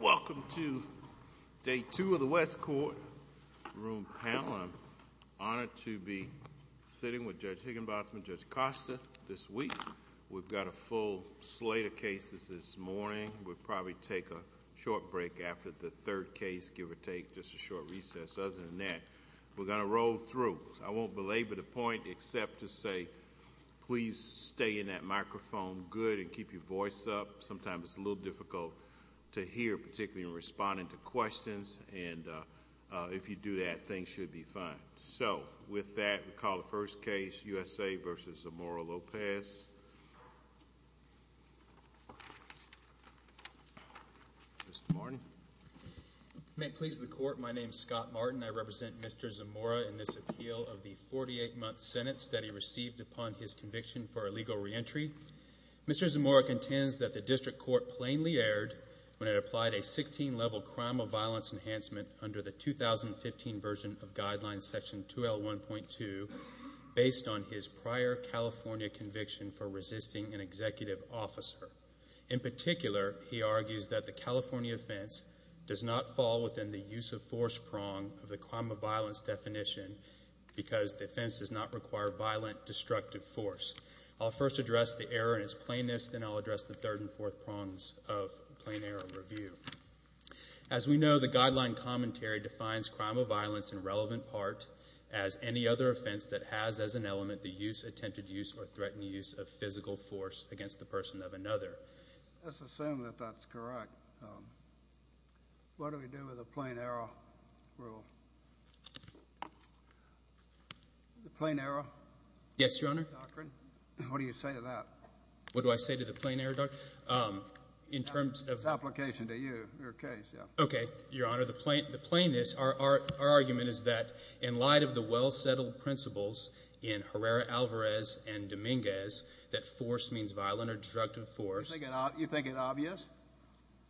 Welcome to Day 2 of the West Court Room Panel. I'm honored to be sitting with Judge Higginbotham and Judge Costa this week. We've got a full slate of cases this morning. We'll probably take a short break after the third case, give or take, just a short recess. Other than that, we're going to roll through. I won't belabor the point except to say please stay in that setup. Sometimes it's a little difficult to hear, particularly in responding to questions. If you do that, things should be fine. With that, we'll call the first case, USA v. Zamora-Lopez. Judge Higginbotham May it please the Court, my name is Scott Martin. I represent Mr. Zamora in this appeal of the 48-month sentence that he received upon his conviction for illegal reentry. Mr. Zamora contends that the District Court plainly erred when it applied a 16-level crime of violence enhancement under the 2015 version of Guidelines Section 2L1.2 based on his prior California conviction for resisting an executive officer. In particular, he argues that the California offense does not fall within the use of force prong of the crime of violence definition because the offense does not require violent, destructive force. I'll first address the error in its plainness, then I'll address the third and fourth prongs of plain error review. As we know, the guideline commentary defines crime of violence in relevant part as any other offense that has as an element the use, attempted use, or threatened use of physical force against the person of another. Let's assume that that's correct. What do we do with the plain error rule? The plain error? Yes, Your Honor. What do you say to that? What do I say to the plain error doctrine? In terms of... It's an application to you, your case, yeah. Okay, Your Honor. The plainness, our argument is that in light of the well-settled principles in Herrera-Alvarez and Dominguez that force means violent or destructive force... You think it obvious?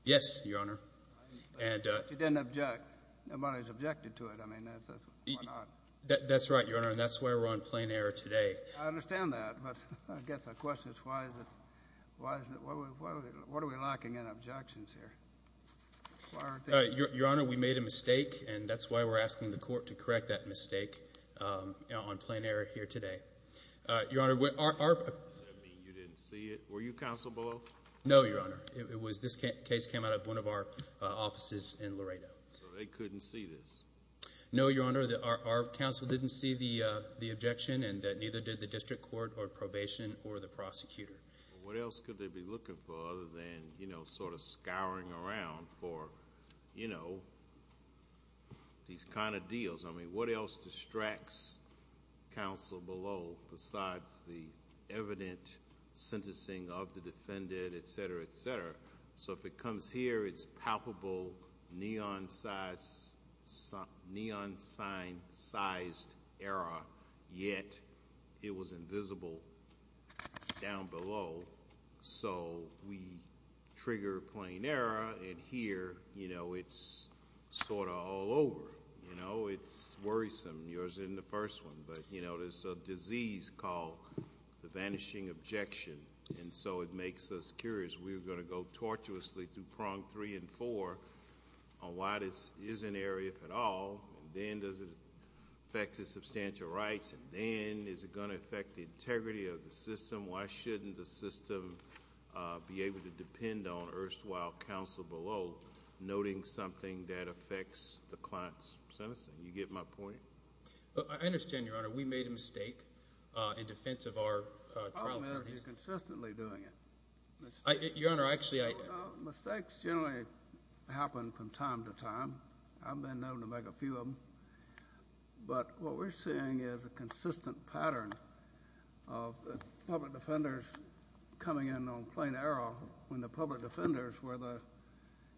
Yes, Your Honor. But you didn't object. Nobody's objected to it. That's right, Your Honor, and that's why we're on plain error today. I understand that, but I guess the question is why is it... What are we lacking in objections here? Your Honor, we made a mistake, and that's why we're asking the court to correct that mistake on plain error. Does that mean you didn't see it? Were you counsel below? No, Your Honor. This case came out of one of our offices in Laredo. So they couldn't see this? No, Your Honor. Our counsel didn't see the objection, and neither did the district court or probation or the prosecutor. What else could they be looking for other than sort of scouring around for, you know, these kind of deals? I mean, what else distracts counsel below besides the evident sentencing of the defendant, et cetera, et cetera? So if it comes here, it's palpable neon sign sized error, yet it was invisible down below. So we trigger plain error, and here, you know, it's sort of all over. You know, it's worrisome. Yours isn't the first one, but, you know, there's a disease called the vanishing objection, and so it makes us curious. We're going to go tortuously through prong three and four on why this is an error, if at all, and then does it affect his substantial rights, and then is it going to affect the integrity of the system? Why shouldn't the system be able to depend on the first while counsel below noting something that affects the client's sentencing? You get my point? I understand, Your Honor. We made a mistake in defense of our trial attorneys. The problem is you're consistently doing it. Your Honor, I actually... Mistakes generally happen from time to time. I've been known to make a few of them, but what we're seeing is a consistent pattern of the public defenders coming in on plain error when the public defenders were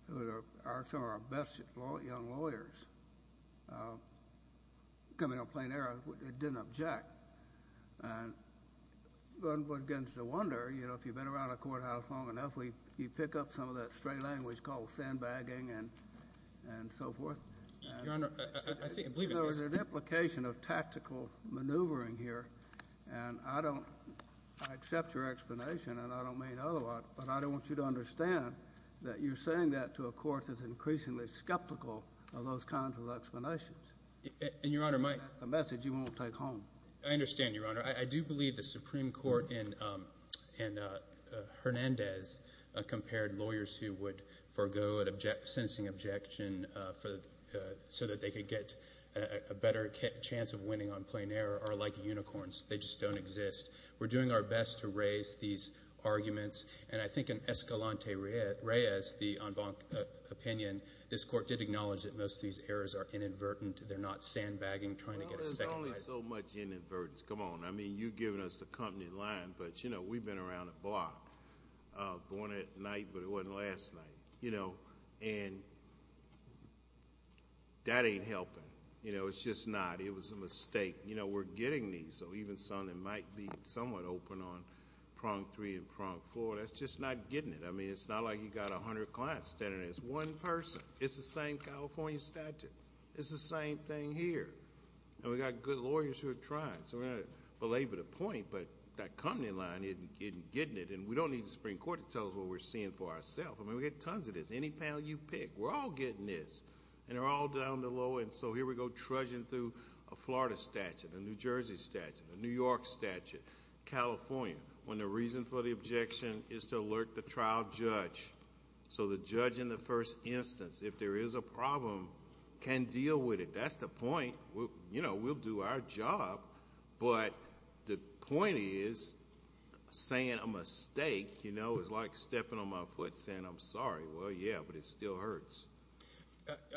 some of our best young lawyers. Coming on plain error, it didn't object, and one begins to wonder, you know, if you've been around a courthouse long enough, you pick up some of that stray language called sandbagging and so forth. Your Honor, I believe... There is some maneuvering here, and I don't... I accept your explanation, and I don't mean otherwise, but I don't want you to understand that you're saying that to a court that's increasingly skeptical of those kinds of explanations. And, Your Honor, my... And that's a message you won't take home. I understand, Your Honor. I do believe the Supreme Court and Hernandez compared lawyers who would forego a sentencing objection so that they could get a better chance of winning on plain error are like unicorns. They just don't exist. We're doing our best to raise these arguments, and I think in Escalante-Reyes, the en banc opinion, this court did acknowledge that most of these errors are inadvertent. They're not sandbagging trying to get a second... There's only so much inadvertence. Come on. I mean, you've given us the company line, but, you know, we've been around the block. Born at night, but it was a mistake. You know, we're getting these, so even something that might be somewhat open on prong three and prong four, that's just not getting it. I mean, it's not like you've got a hundred clients standing there. It's one person. It's the same California statute. It's the same thing here. And we've got good lawyers who are trying, so we're going to belabor the point, but that company line isn't getting it, and we don't need the Supreme Court to tell us what we're seeing for ourselves. I mean, we get tons of this. Any panel you pick, we're all getting this, and they're all down the low end, so here we go trudging through a Florida statute, a New Jersey statute, a New York statute, California, when the reason for the objection is to alert the trial judge, so the judge in the first instance, if there is a problem, can deal with it. That's the point. You know, we'll do our job, but the point is saying a mistake, you know, is like stepping on my foot saying, I'm sorry. Well, yeah, but it still hurts.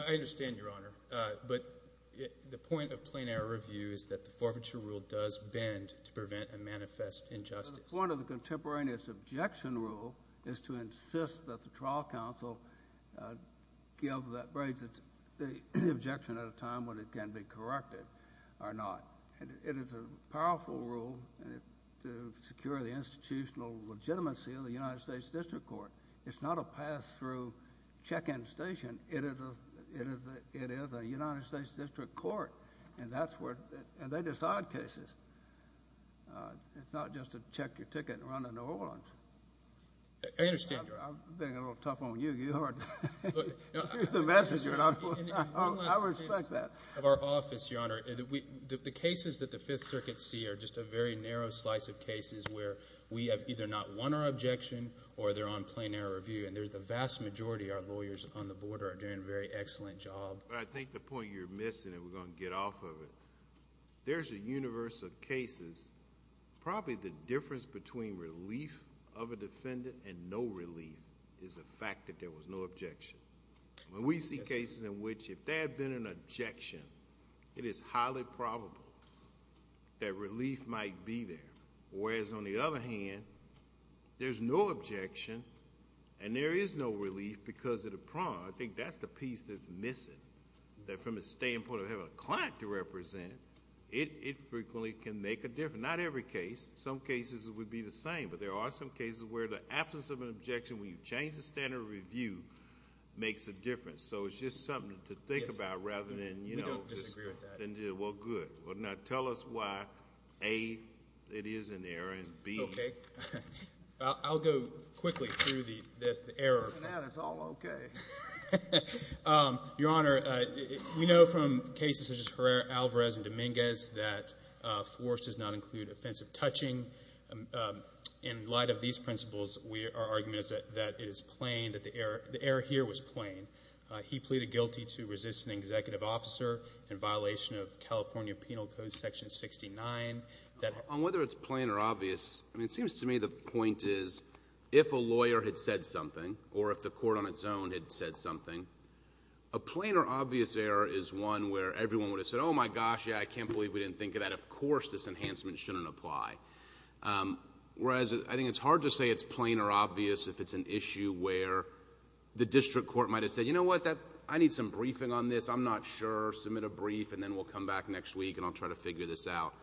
I understand, Your Honor, but the point of plain error review is that the forfeiture rule does bend to prevent a manifest injustice. Well, the point of the contemporaneous objection rule is to insist that the trial counsel give the objection at a time when it can be corrected or not. And it is a powerful rule to secure the institutional legitimacy of the United States District Court. It's not a pass-through check-in station. It is a United States District Court, and they decide cases. It's not just a check your ticket and run to New Orleans. I understand, Your Honor. I'm being a little tough on you. You are the messenger, and I respect that. One last case of our office, Your Honor. The cases that the Fifth Circuit see are just a very narrow slice of cases where we have either not won our objection or they're on the board or are doing a very excellent job. I think the point you're missing, and we're going to get off of it, there's a universe of cases. Probably the difference between relief of a defendant and no relief is the fact that there was no objection. When we see cases in which if there had been an objection, it is highly probable that relief might be there. Whereas, on the other hand, there's no objection, and there is no relief because of the prong. I think that's the piece that's missing, that from the standpoint of having a client to represent, it frequently can make a difference. Not every case. Some cases would be the same, but there are some cases where the absence of an objection when you change the standard of review makes a difference. It's just something to think about rather than... We don't disagree with that. Good. Now, tell us why, A, it is an error, and B... Okay. I'll go quickly through the error... Looking at it, it's all okay. Your Honor, we know from cases such as Herrera, Alvarez, and Dominguez that force does not include offensive touching. In light of these principles, our argument is that it is plain, that the error here was plain. He pleaded guilty to resisting an executive officer in violation of California Penal Code Section 69. On whether it's plain or obvious, it seems to me the point is, if a lawyer had said something or if the court on its own had said something, a plain or obvious error is one where everyone would have said, oh my gosh, yeah, I can't believe we didn't think of that. Of course, this enhancement shouldn't apply. Whereas, I think it's hard to say it's plain or obvious if it's an issue where the district court might have said, you know what, I need some briefing on this. I'm not sure. Submit a brief and then we'll come back next week and I'll try to figure this out.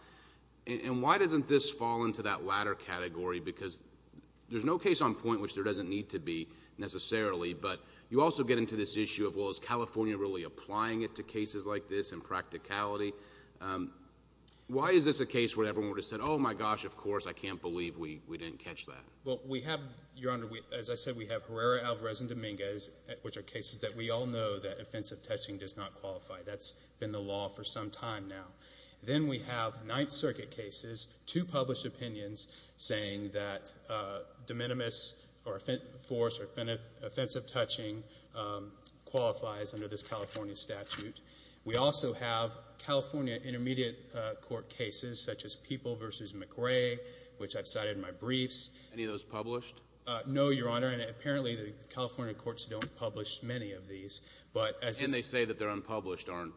And why doesn't this fall into that latter category? Because there's no case on point which there doesn't need to be, necessarily, but you also get into this issue of, well, is California really applying it to cases like this in practicality? Why is this a case where everyone would have said, oh my gosh, of course, I can't believe we didn't catch that? Well, we have, Your Honor, as I said, we have Herrera, Alvarez, and Dominguez, which are cases that we all know that offensive touching does not qualify. That's been the law for some time now. Then we have Ninth Circuit cases, two published opinions saying that de minimis or force or offensive touching qualifies under this California statute. We also have California intermediate court cases such as Peeble v. McRae, which I've cited in my briefs. Any of those published? No, Your Honor. And apparently the California courts don't publish many of these. But as soon as they say that they're unpublished, aren't,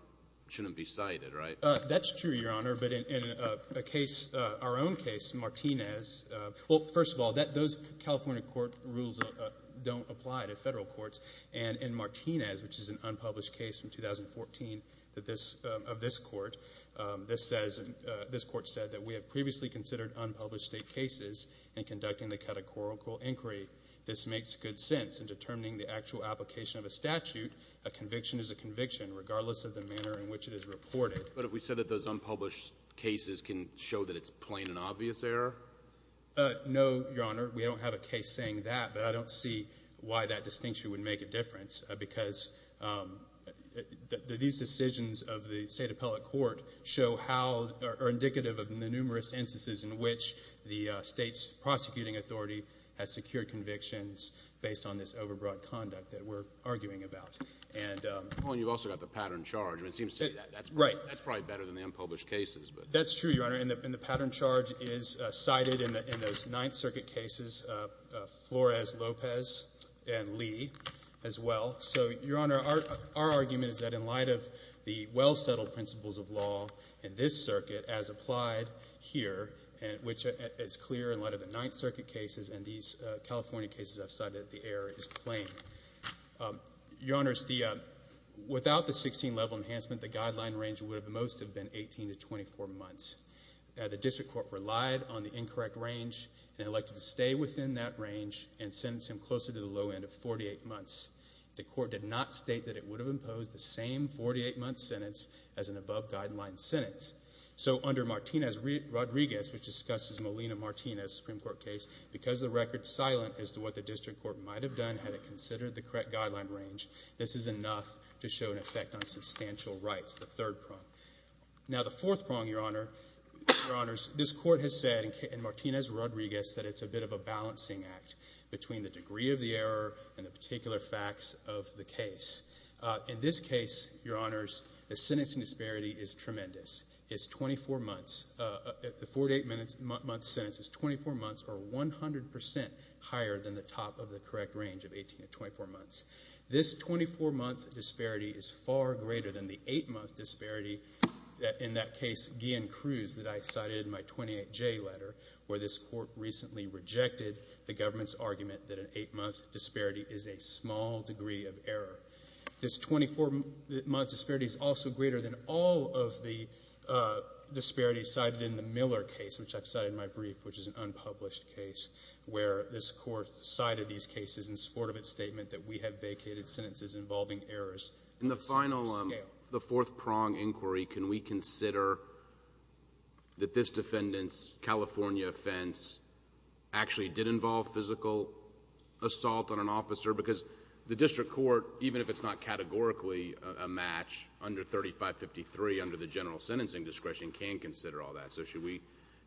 shouldn't be cited, right? That's true, Your Honor. But in a case, our own case, Martinez, well, first of all, those California court rules don't apply to Federal courts. And in Martinez, which is an unpublished case from 2014 of this Court, this says, this Court said that we have previously considered unpublished State cases in conducting the categorical inquiry. This makes good sense in determining the actual application of a statute. A conviction is a conviction regardless of the manner in which it is reported. But have we said that those unpublished cases can show that it's plain and obvious error? No, Your Honor. We don't have a case saying that. But I don't see why that distinction would make a difference, because these decisions of the State appellate court show how or are indicative of the numerous instances in which the State's prosecuting authority has secured convictions based on this overbroad conduct that we're arguing about. And — Well, and you've also got the pattern charge. I mean, it seems to me that that's — Right. That's probably better than the unpublished cases, but — That's true, Your Honor. And the pattern charge is cited in those Ninth Circuit cases, Flores, Lopez, and Lee as well. So, Your Honor, our argument is that in light of the well-settled principles of law in this circuit as applied here, which is clear in light of the Ninth Circuit cases and these California cases I've cited, the error is plain. Your Honors, without the 16-level enhancement, the guideline range would have most have been 18 to 24 months. The district court relied on the incorrect range and elected to stay within that range and sentence him closer to the low end of 48 months. The court did not state that it would have imposed the same 48-month sentence as an above-guideline sentence. So under Martinez-Rodriguez, which discusses Molina-Martinez Supreme Court case, because the record's silent as to what the district court might have done had it considered the correct guideline range, this is enough to show an effect on substantial rights, the third prong. Now, the fourth prong, Your Honors, this Court has said in Martinez-Rodriguez that it's a bit of a balancing act between the degree of the error and the particular facts of the is 24 months. The 48-month sentence is 24 months or 100 percent higher than the top of the correct range of 18 to 24 months. This 24-month disparity is far greater than the 8-month disparity in that case, Guillen-Cruz, that I cited in my 28J letter, where this court recently rejected the government's argument that an 8-month disparity is a small degree of error. This 24-month disparity is also greater than all of the disparities cited in the Miller case, which I've cited in my brief, which is an unpublished case, where this court cited these cases in support of its statement that we have vacated sentences involving errors. In the final, the fourth prong inquiry, can we consider that this defendant's California defense actually did involve physical assault on an officer? Because the district court, even if it's not categorically a match under 3553 under the general sentencing discretion, can consider all that. So should we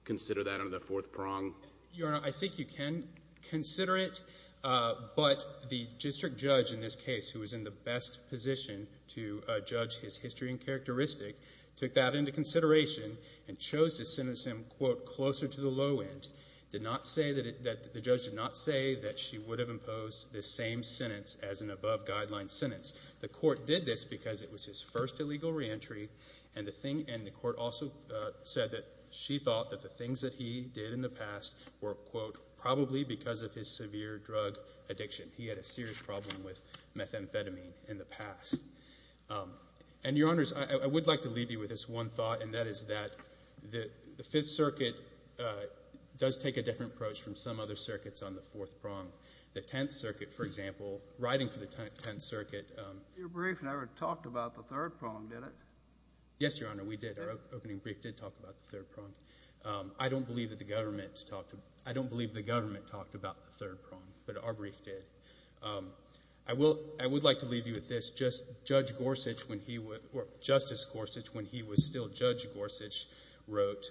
consider that under the fourth prong? Your Honor, I think you can consider it, but the district judge in this case, who was in the best position to judge his history and characteristic, took that into consideration and chose to sentence him, quote, closer to the low end, did not say that the judge did not say that she would have imposed this same sentence as an above-guideline sentence. The court did this because it was his first illegal reentry, and the court also said that she thought that the things that he did in the past were, quote, probably because of his severe drug addiction. He had a serious problem with methamphetamine in the past. And, Your Honors, I would like to leave you with this one thought, and that is that the Fifth Circuit does take a different approach from some other circuits on the fourth prong. The Tenth Circuit, for example, writing for the Tenth Circuit Your brief never talked about the third prong, did it? Yes, Your Honor, we did. Our opening brief did talk about the third prong. I don't believe that the government talked about the third prong, but our brief did. I would like to leave you with this. Justice Gorsuch, when he was still Judge Gorsuch, wrote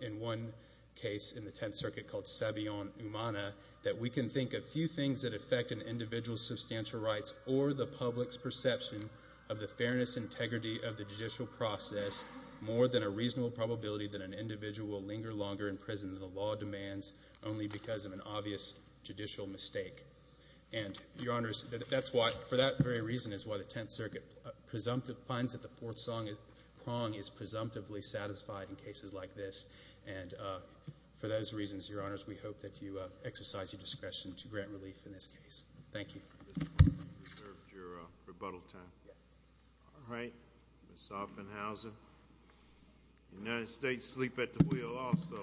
in one case in the Tenth Circuit called Savion Umana, that we can think of few things that affect an individual's substantial rights or the public's perception of the fairness and integrity of the judicial process more than a reasonable probability that an individual will linger longer in prison than the law demands only because of an obvious judicial mistake. And, Your Honors, that's why, for that very reason is why the Tenth Circuit finds that the fourth prong is presumptively satisfied in cases like this. And for those reasons, Your Honors, we hope that you exercise your discretion to grant relief in this case. Thank you. You reserved your rebuttal time. Yes. All right. Ms. Offenhauser. The United States sleep at the wheel also.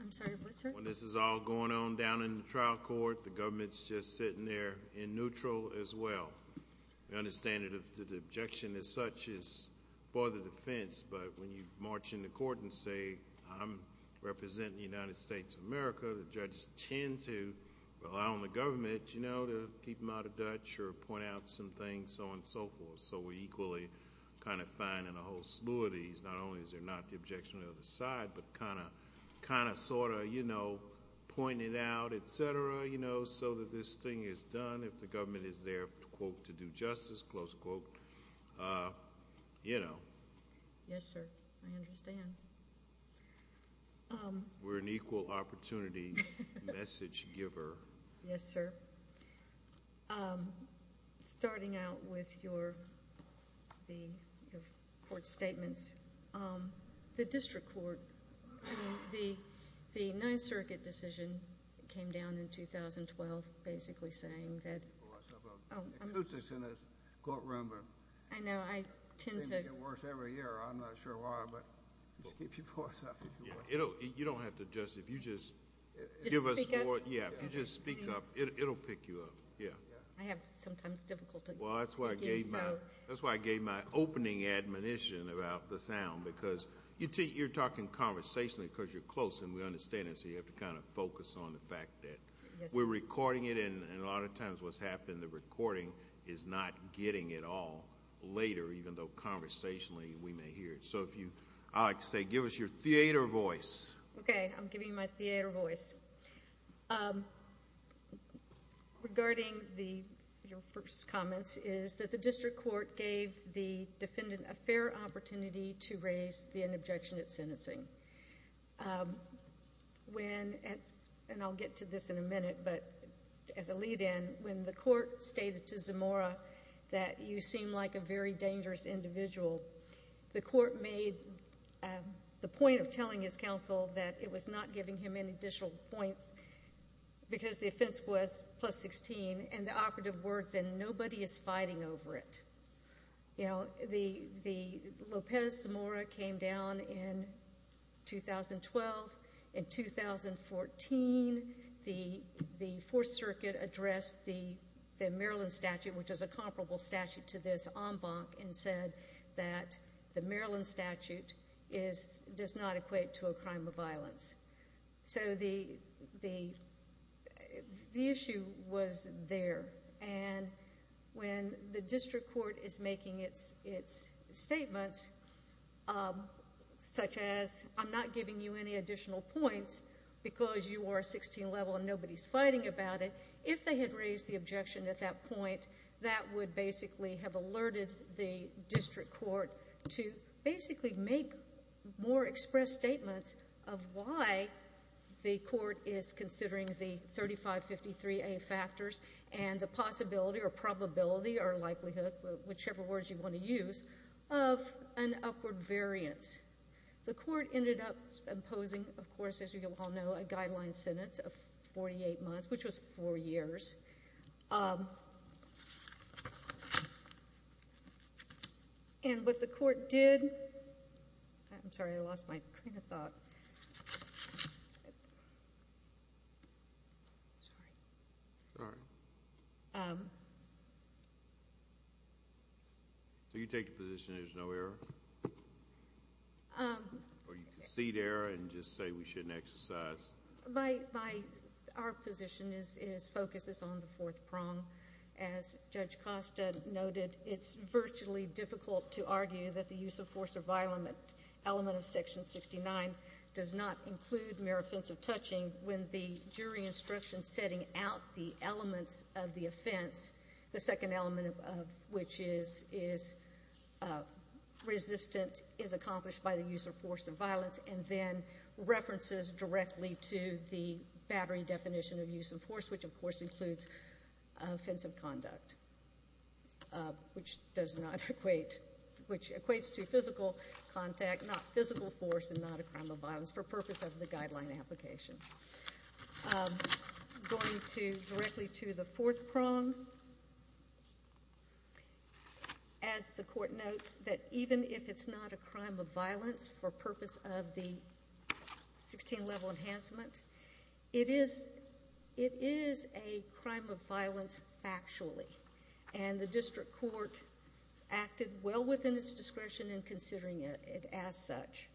I'm sorry, what, sir? When this is all going on down in the trial court, the government's just sitting there in neutral as well. I understand the objection as such is for the defense, but when you march in the court and say, I'm representing the United States of America, the judges tend to rely on the government, you know, to keep them out of Dutch or point out some things, so on and so forth. So we equally kind of find in a whole slew of these, not only is there not the objection on the other side, but kind of sort of, you know, point it out, et cetera, you know, so that this thing is done if the government is there, quote, to do justice, close quote, you know. Yes, sir. I understand. We're an equal opportunity message giver. Yes, sir. Starting out with your court statements, the district court, I mean, the 9th Circuit decision came down in 2012 basically saying that It puts us in a courtroom where things get worse every year. I'm not sure why, but just keep your voice up if you want. You know, you don't have to just, if you just Just speak up? Yeah, if you just speak up, it'll pick you up, yeah. I have sometimes difficulty speaking, so Well, that's why I gave my opening admonition about the sound, because you're talking conversationally because you're close and we understand it, so you have to kind of focus on the fact that we're recording it and a lot of times what's happened, the recording is not getting it all later, even though conversationally we may hear it. So if you, I like to say, give us your theater voice. Okay, I'm giving you my theater voice. Regarding your first comments is that the district court gave the defendant a fair opportunity to raise an objection at sentencing. When, and I'll get to this in a minute, but as a lead in, when the court stated to Zamora that you seem like a very dangerous individual, the court made the point of telling his counsel that it was not giving him any additional points because the offense was plus 16 and the operative words, and nobody is fighting over it. You know, the, the, Lopez Zamora came down in 2012, in 2014, the, the Fourth Circuit addressed the, the Maryland statute, which is a comparable statute to this en banc and said that the Maryland statute is, does not equate to a crime of violence. So the, the, the issue was there and when the district court is making its, its statements, such as I'm not giving you any additional points because you are 16 level and nobody is fighting about it, if they had raised the objection at that point, that would basically have alerted the district court to basically make more express statements of why the court is considering the 3553A factors and the possibility or probability or likelihood, whichever words you want to use, of an upward variance. The court ended up imposing, of course, as you all know, a four-year statute, which was four years. And what the court did, I'm sorry, I lost my train of thought. Sorry. Sorry. So you take the position there's no error? Or you on the fourth prong. As Judge Costa noted, it's virtually difficult to argue that the use of force of element, element of section 69 does not include mere offensive touching when the jury instructions setting out the elements of the offense, the second element of which is, is resistant is accomplished by the use of force of violence and then references directly to the battery definition of use of force, which of course includes offensive conduct, which does not equate, which equates to physical contact, not physical force and not a crime of violence for purpose of the guideline application. Going to, directly to the fourth prong, as the court notes that even if it's not a crime of violence for any level enhancement, it is, it is a crime of violence factually and the district court acted well within its discretion in considering it as such.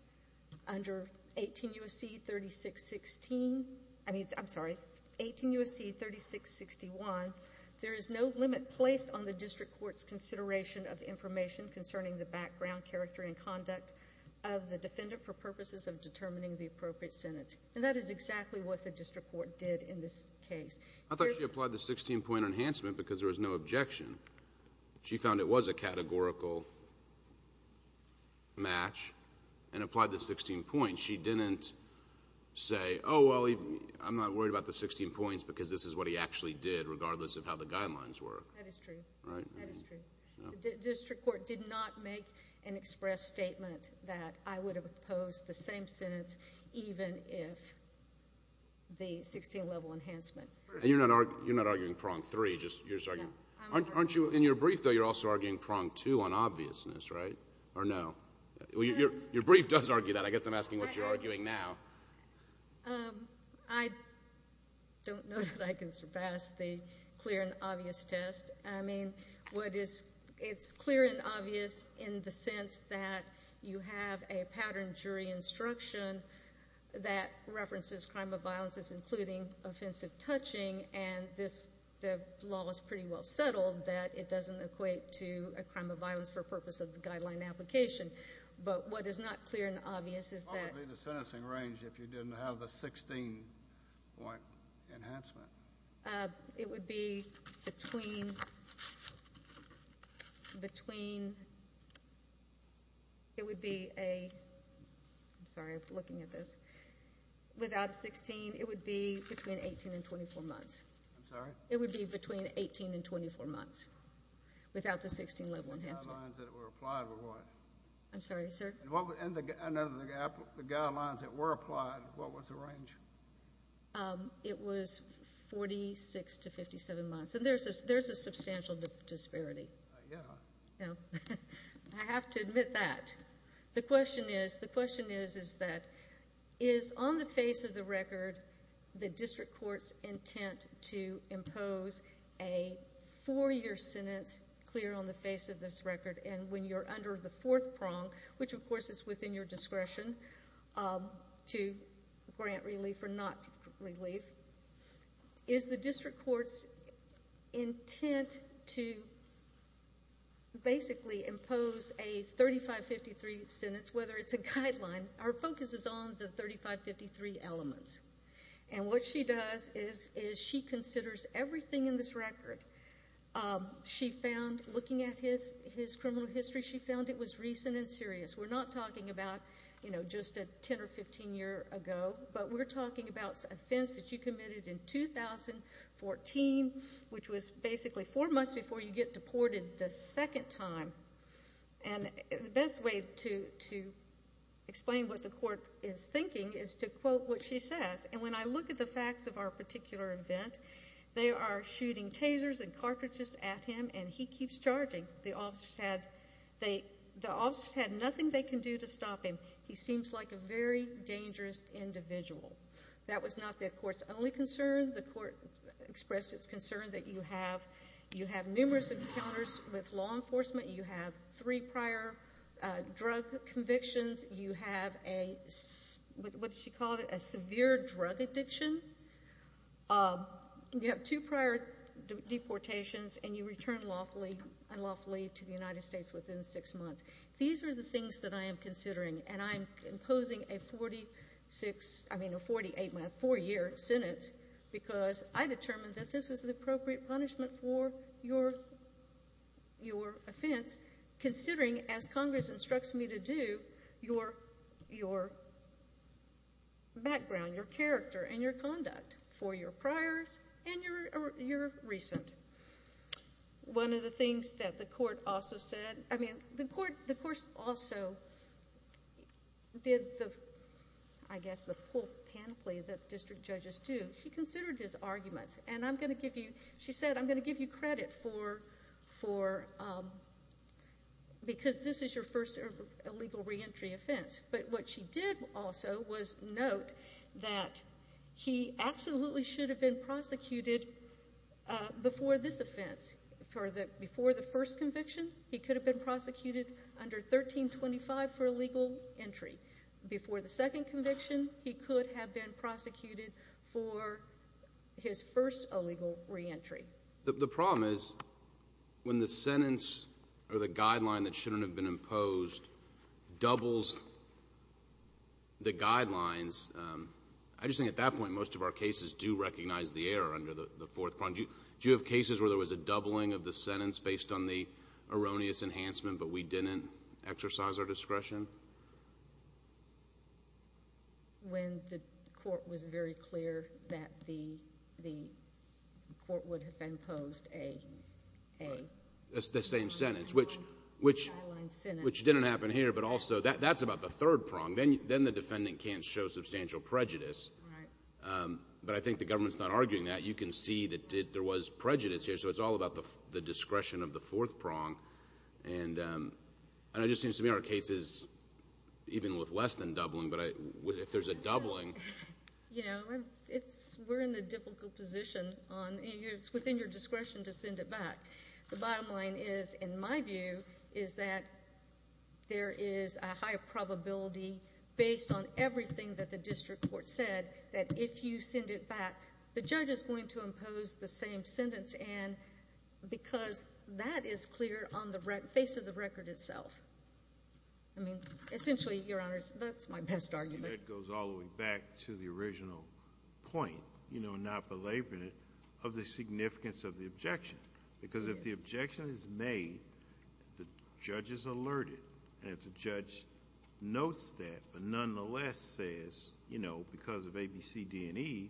Under 18 U.S.C. 3616, I mean, I'm sorry, 18 U.S.C. 3661, there is no limit placed on the district court's consideration of information concerning the background, character and conduct of the defendant for determining the appropriate sentence. And that is exactly what the district court did in this case. I thought she applied the 16-point enhancement because there was no objection. She found it was a categorical match and applied the 16 points. She didn't say, oh, well, I'm not worried about the 16 points because this is what he actually did regardless of how the guidelines were. That is true. That is true. The district court did not make an express statement that I would have opposed the same sentence even if the 16-level enhancement. And you're not arguing prong three, just, you're just arguing, aren't you, in your brief though, you're also arguing prong two on obviousness, right? Or no? Well, your brief does argue that. I guess I'm asking what you're arguing now. I don't know that I can surpass the clear and obvious test. I mean, what is, it's clear and obvious in the sense that you have a pattern jury instruction that references crime of violence as including offensive touching and this, the law is pretty well settled that it doesn't equate to a crime of violence for purpose of the guideline application. But what is not clear and obvious is that. Probably the sentencing range if you didn't have the 16-point enhancement. It would be between, between, it would be a, I'm sorry, I'm looking at this, without 16, it would be between 18 and 24 months. I'm sorry? It would be between 18 and 24 months without the 16-level enhancement. And the guidelines that were applied were what? I'm sorry, sir? And the guidelines that were applied, what was the range? It was 46 to 57 months. And there's a, there's a substantial disparity. Yeah. Yeah. I have to admit that. The question is, the question is, is that is on the face of the record the district court's intent to impose a four-year sentence clear on the face of this record? And when you're under the fourth prong, which of course is within your discretion to grant relief or not relief, is the district court's intent to basically impose a 3553 sentence, whether it's a guideline, our focus is on the 3553 elements. And what she does is she considers everything in this record. She found, looking at his criminal history, she found it was recent and serious. We're not talking about, you know, just a 10 or 15 year ago, but we're talking about an offense that you committed in 2014, which was basically four months before you get deported the second time. And the way to explain what the court is thinking is to quote what she says. And when I look at the facts of our particular event, they are shooting tasers and cartridges at him and he keeps charging. The officers had, they, the officers had nothing they can do to stop him. He seems like a very dangerous individual. That was not the court's only concern. The court expressed its concern that you have, you have numerous encounters with law enforcement, you have three prior drug convictions, you have a, what did she call it, a severe drug addiction. You have two prior deportations and you return lawfully, unlawfully to the United States within six months. These are the things that I am considering and I am imposing a 46, I mean a 48 month, four year sentence because I determined that this was appropriate punishment for your, your offense considering as Congress instructs me to do your, your background, your character and your conduct for your prior and your, your recent. One of the things that the court also said, I mean the court, the court also did the, I guess the full panoply that district judges do. She considered his arguments and I'm going to give you, she said I'm going to give you credit for, for, because this is your first ever illegal reentry offense. But what she did also was note that he absolutely should have been prosecuted before this offense, for the, before the first conviction he could have been prosecuted under 1325 for illegal entry. Before the second conviction he could have been prosecuted for his first illegal reentry. The, the problem is when the sentence or the guideline that shouldn't have been imposed doubles the guidelines, I just think at that point most of our cases do recognize the error under the, the fourth point. Do you, do you have cases where there was a doubling of the sentence based on the erroneous enhancement but we didn't exercise our discretion? When the court was very clear that the, the court would have imposed a, a. The same sentence which, which. Guideline sentence. Which didn't happen here but also that, that's about the third prong. Then, then the defendant can't show substantial prejudice. Right. But I think the government's not arguing that. You can see that there was prejudice here so it's all about the, the discretion of the fourth prong. And, and it just seems to me our cases, even with less than doubling, but I, if there's a doubling. You know, it's, we're in a difficult position on, it's within your discretion to send it back. The bottom line is, in my view, is that there is a high probability based on everything that the district court said that if you send it back the judge is going to impose the same sentence and, because that is clear on the rec, face of the record itself. I mean, essentially, your honors, that's my best argument. See, that goes all the way back to the original point, you know, not belaboring it, of the significance of the objection. Because if the objection is made, the judge is alerted and if the judge notes that but nonetheless says, you know, because of A, B, C, D, and E,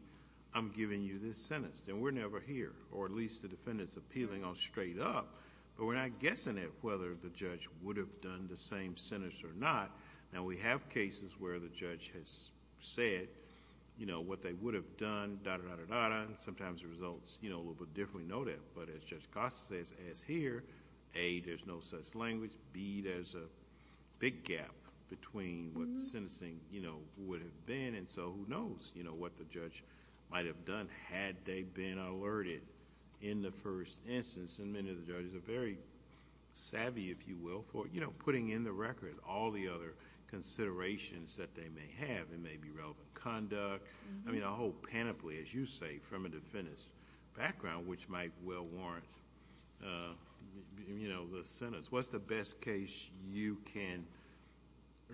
I'm giving you this sentence, then we're never here, or at least the defendant's appealing on straight up, but we're not guessing at whether the judge would have done the same sentence or not. Now, we have cases where the judge has said, you know, what they would have done, da, da, da, da, da, and sometimes the results, you know, a little bit differently noted, but as Judge Costa says, as here, A, there's no such language, B, there's a big gap between what the sentencing, you know, would have been and so who knows, you know, what the judge might have done had they been alerted in the first instance. And many of the judges are very savvy, if you will, for, you know, putting in the record all the other considerations that they may have. It may be relevant conduct, I mean, a whole panoply, as you say, from a defendant's background, which might well warrant, you know, the sentence. What's the best case you can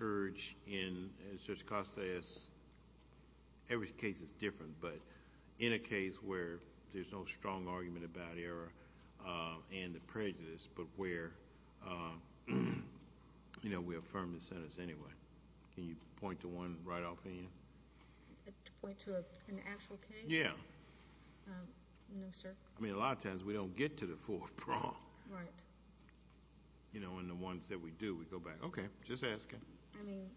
urge in, as Judge Costa says, every case is different, but in a case where there's no strong argument about error and the prejudice, but where, you know, we affirm the sentence anyway. Can you point to one right off the end? To point to an actual case? Yeah. No, sir. I mean, a lot of times, we don't get to the fourth prong. Right. You know, and the ones that we do, we go back, okay, just asking. I mean,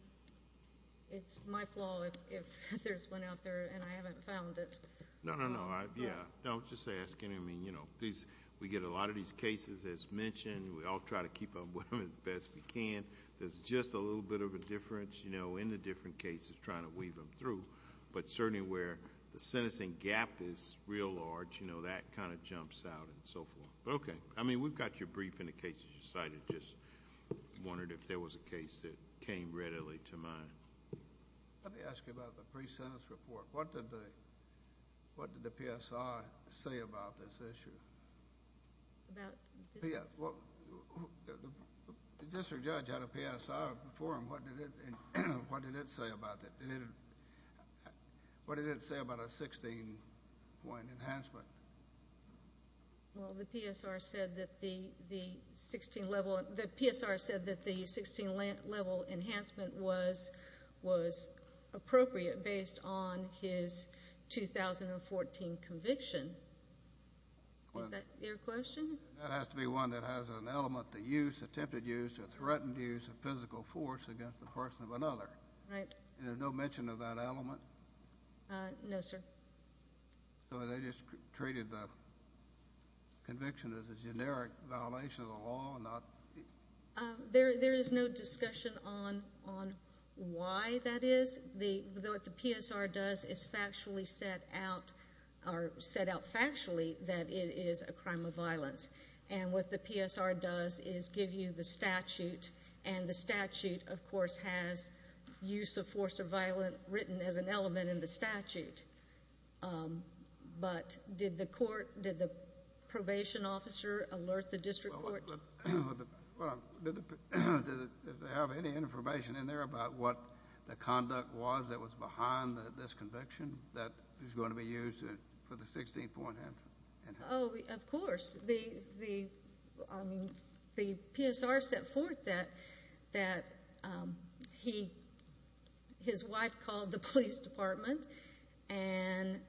it's my fault if there's one out there and I haven't found it. No, no, no. Yeah. No, just asking. I mean, you know, we get a lot of these cases, as mentioned, and we all try to keep up with them as best we can. There's just a little bit of a difference, you know, in the different cases, trying to weave them through, but certainly where the sentencing gap is real large, you know, that kind of jumps out and so forth. Okay. I mean, we've got your brief in the case that you cited. I just wondered if there was a case that came readily to mind. Let me ask you about the pre-sentence report. What did the PSI say about this issue? About this? Yeah. The district judge had a PSI before him. What did it say about it? What did it say about a 16-point enhancement? Well, the PSR said that the 16-level enhancement was appropriate based on his 2014 conviction. Is that your question? That has to be one that has an element that attempted use or threatened use of physical force against the person of another. Right. And there's no mention of that element? No, sir. So they just treated the conviction as a generic violation of the law? There is no discussion on why that is. What the PSR does is set out factually that it is a crime of violence. And what the PSR does is give you the statute, and the statute, of course, has use of force or violence written as an element in the statute. But did the court, did the probation officer alert the district court? Well, did they have any information in there about what the conduct was that was behind this conviction that is going to be used for the 16-point enhancement? Oh, of course. The PSR set forth that his wife called the police department and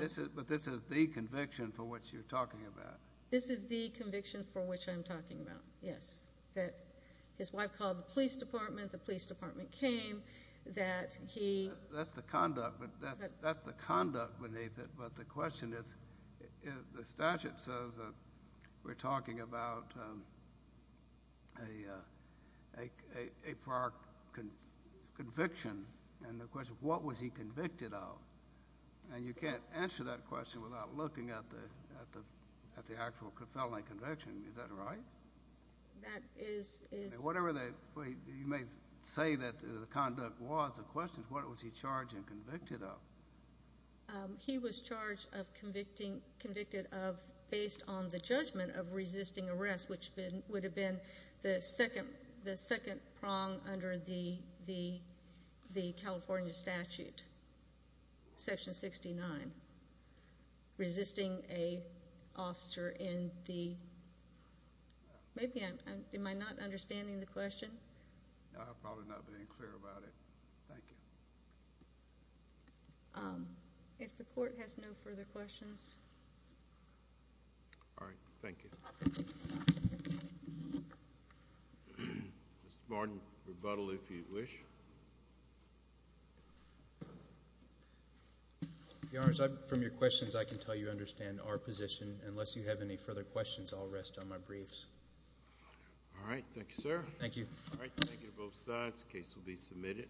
---- But this is the conviction for which you're talking about. This is the conviction for which I'm talking about, yes, that his wife called the police department, the police department came, that he ---- That's the conduct beneath it. But the question is, the statute says that we're talking about a prior conviction, and the question is, what was he convicted of? And you can't answer that question without looking at the actual felony conviction. Is that right? That is. Whatever you may say that the conduct was, the question is, what was he charged and convicted of? He was charged of convicted of, based on the judgment of resisting arrest, which would have been the second prong under the California statute, Section 69, resisting an officer in the ---- Am I not understanding the question? I'm probably not being clear about it. Thank you. If the Court has no further questions. All right. Thank you. Mr. Martin, rebuttal if you wish. Your Honor, from your questions, I can tell you I understand our position. Unless you have any further questions, I'll rest on my briefs. All right. Thank you, sir. Thank you. Thank you to both sides. The case will be submitted.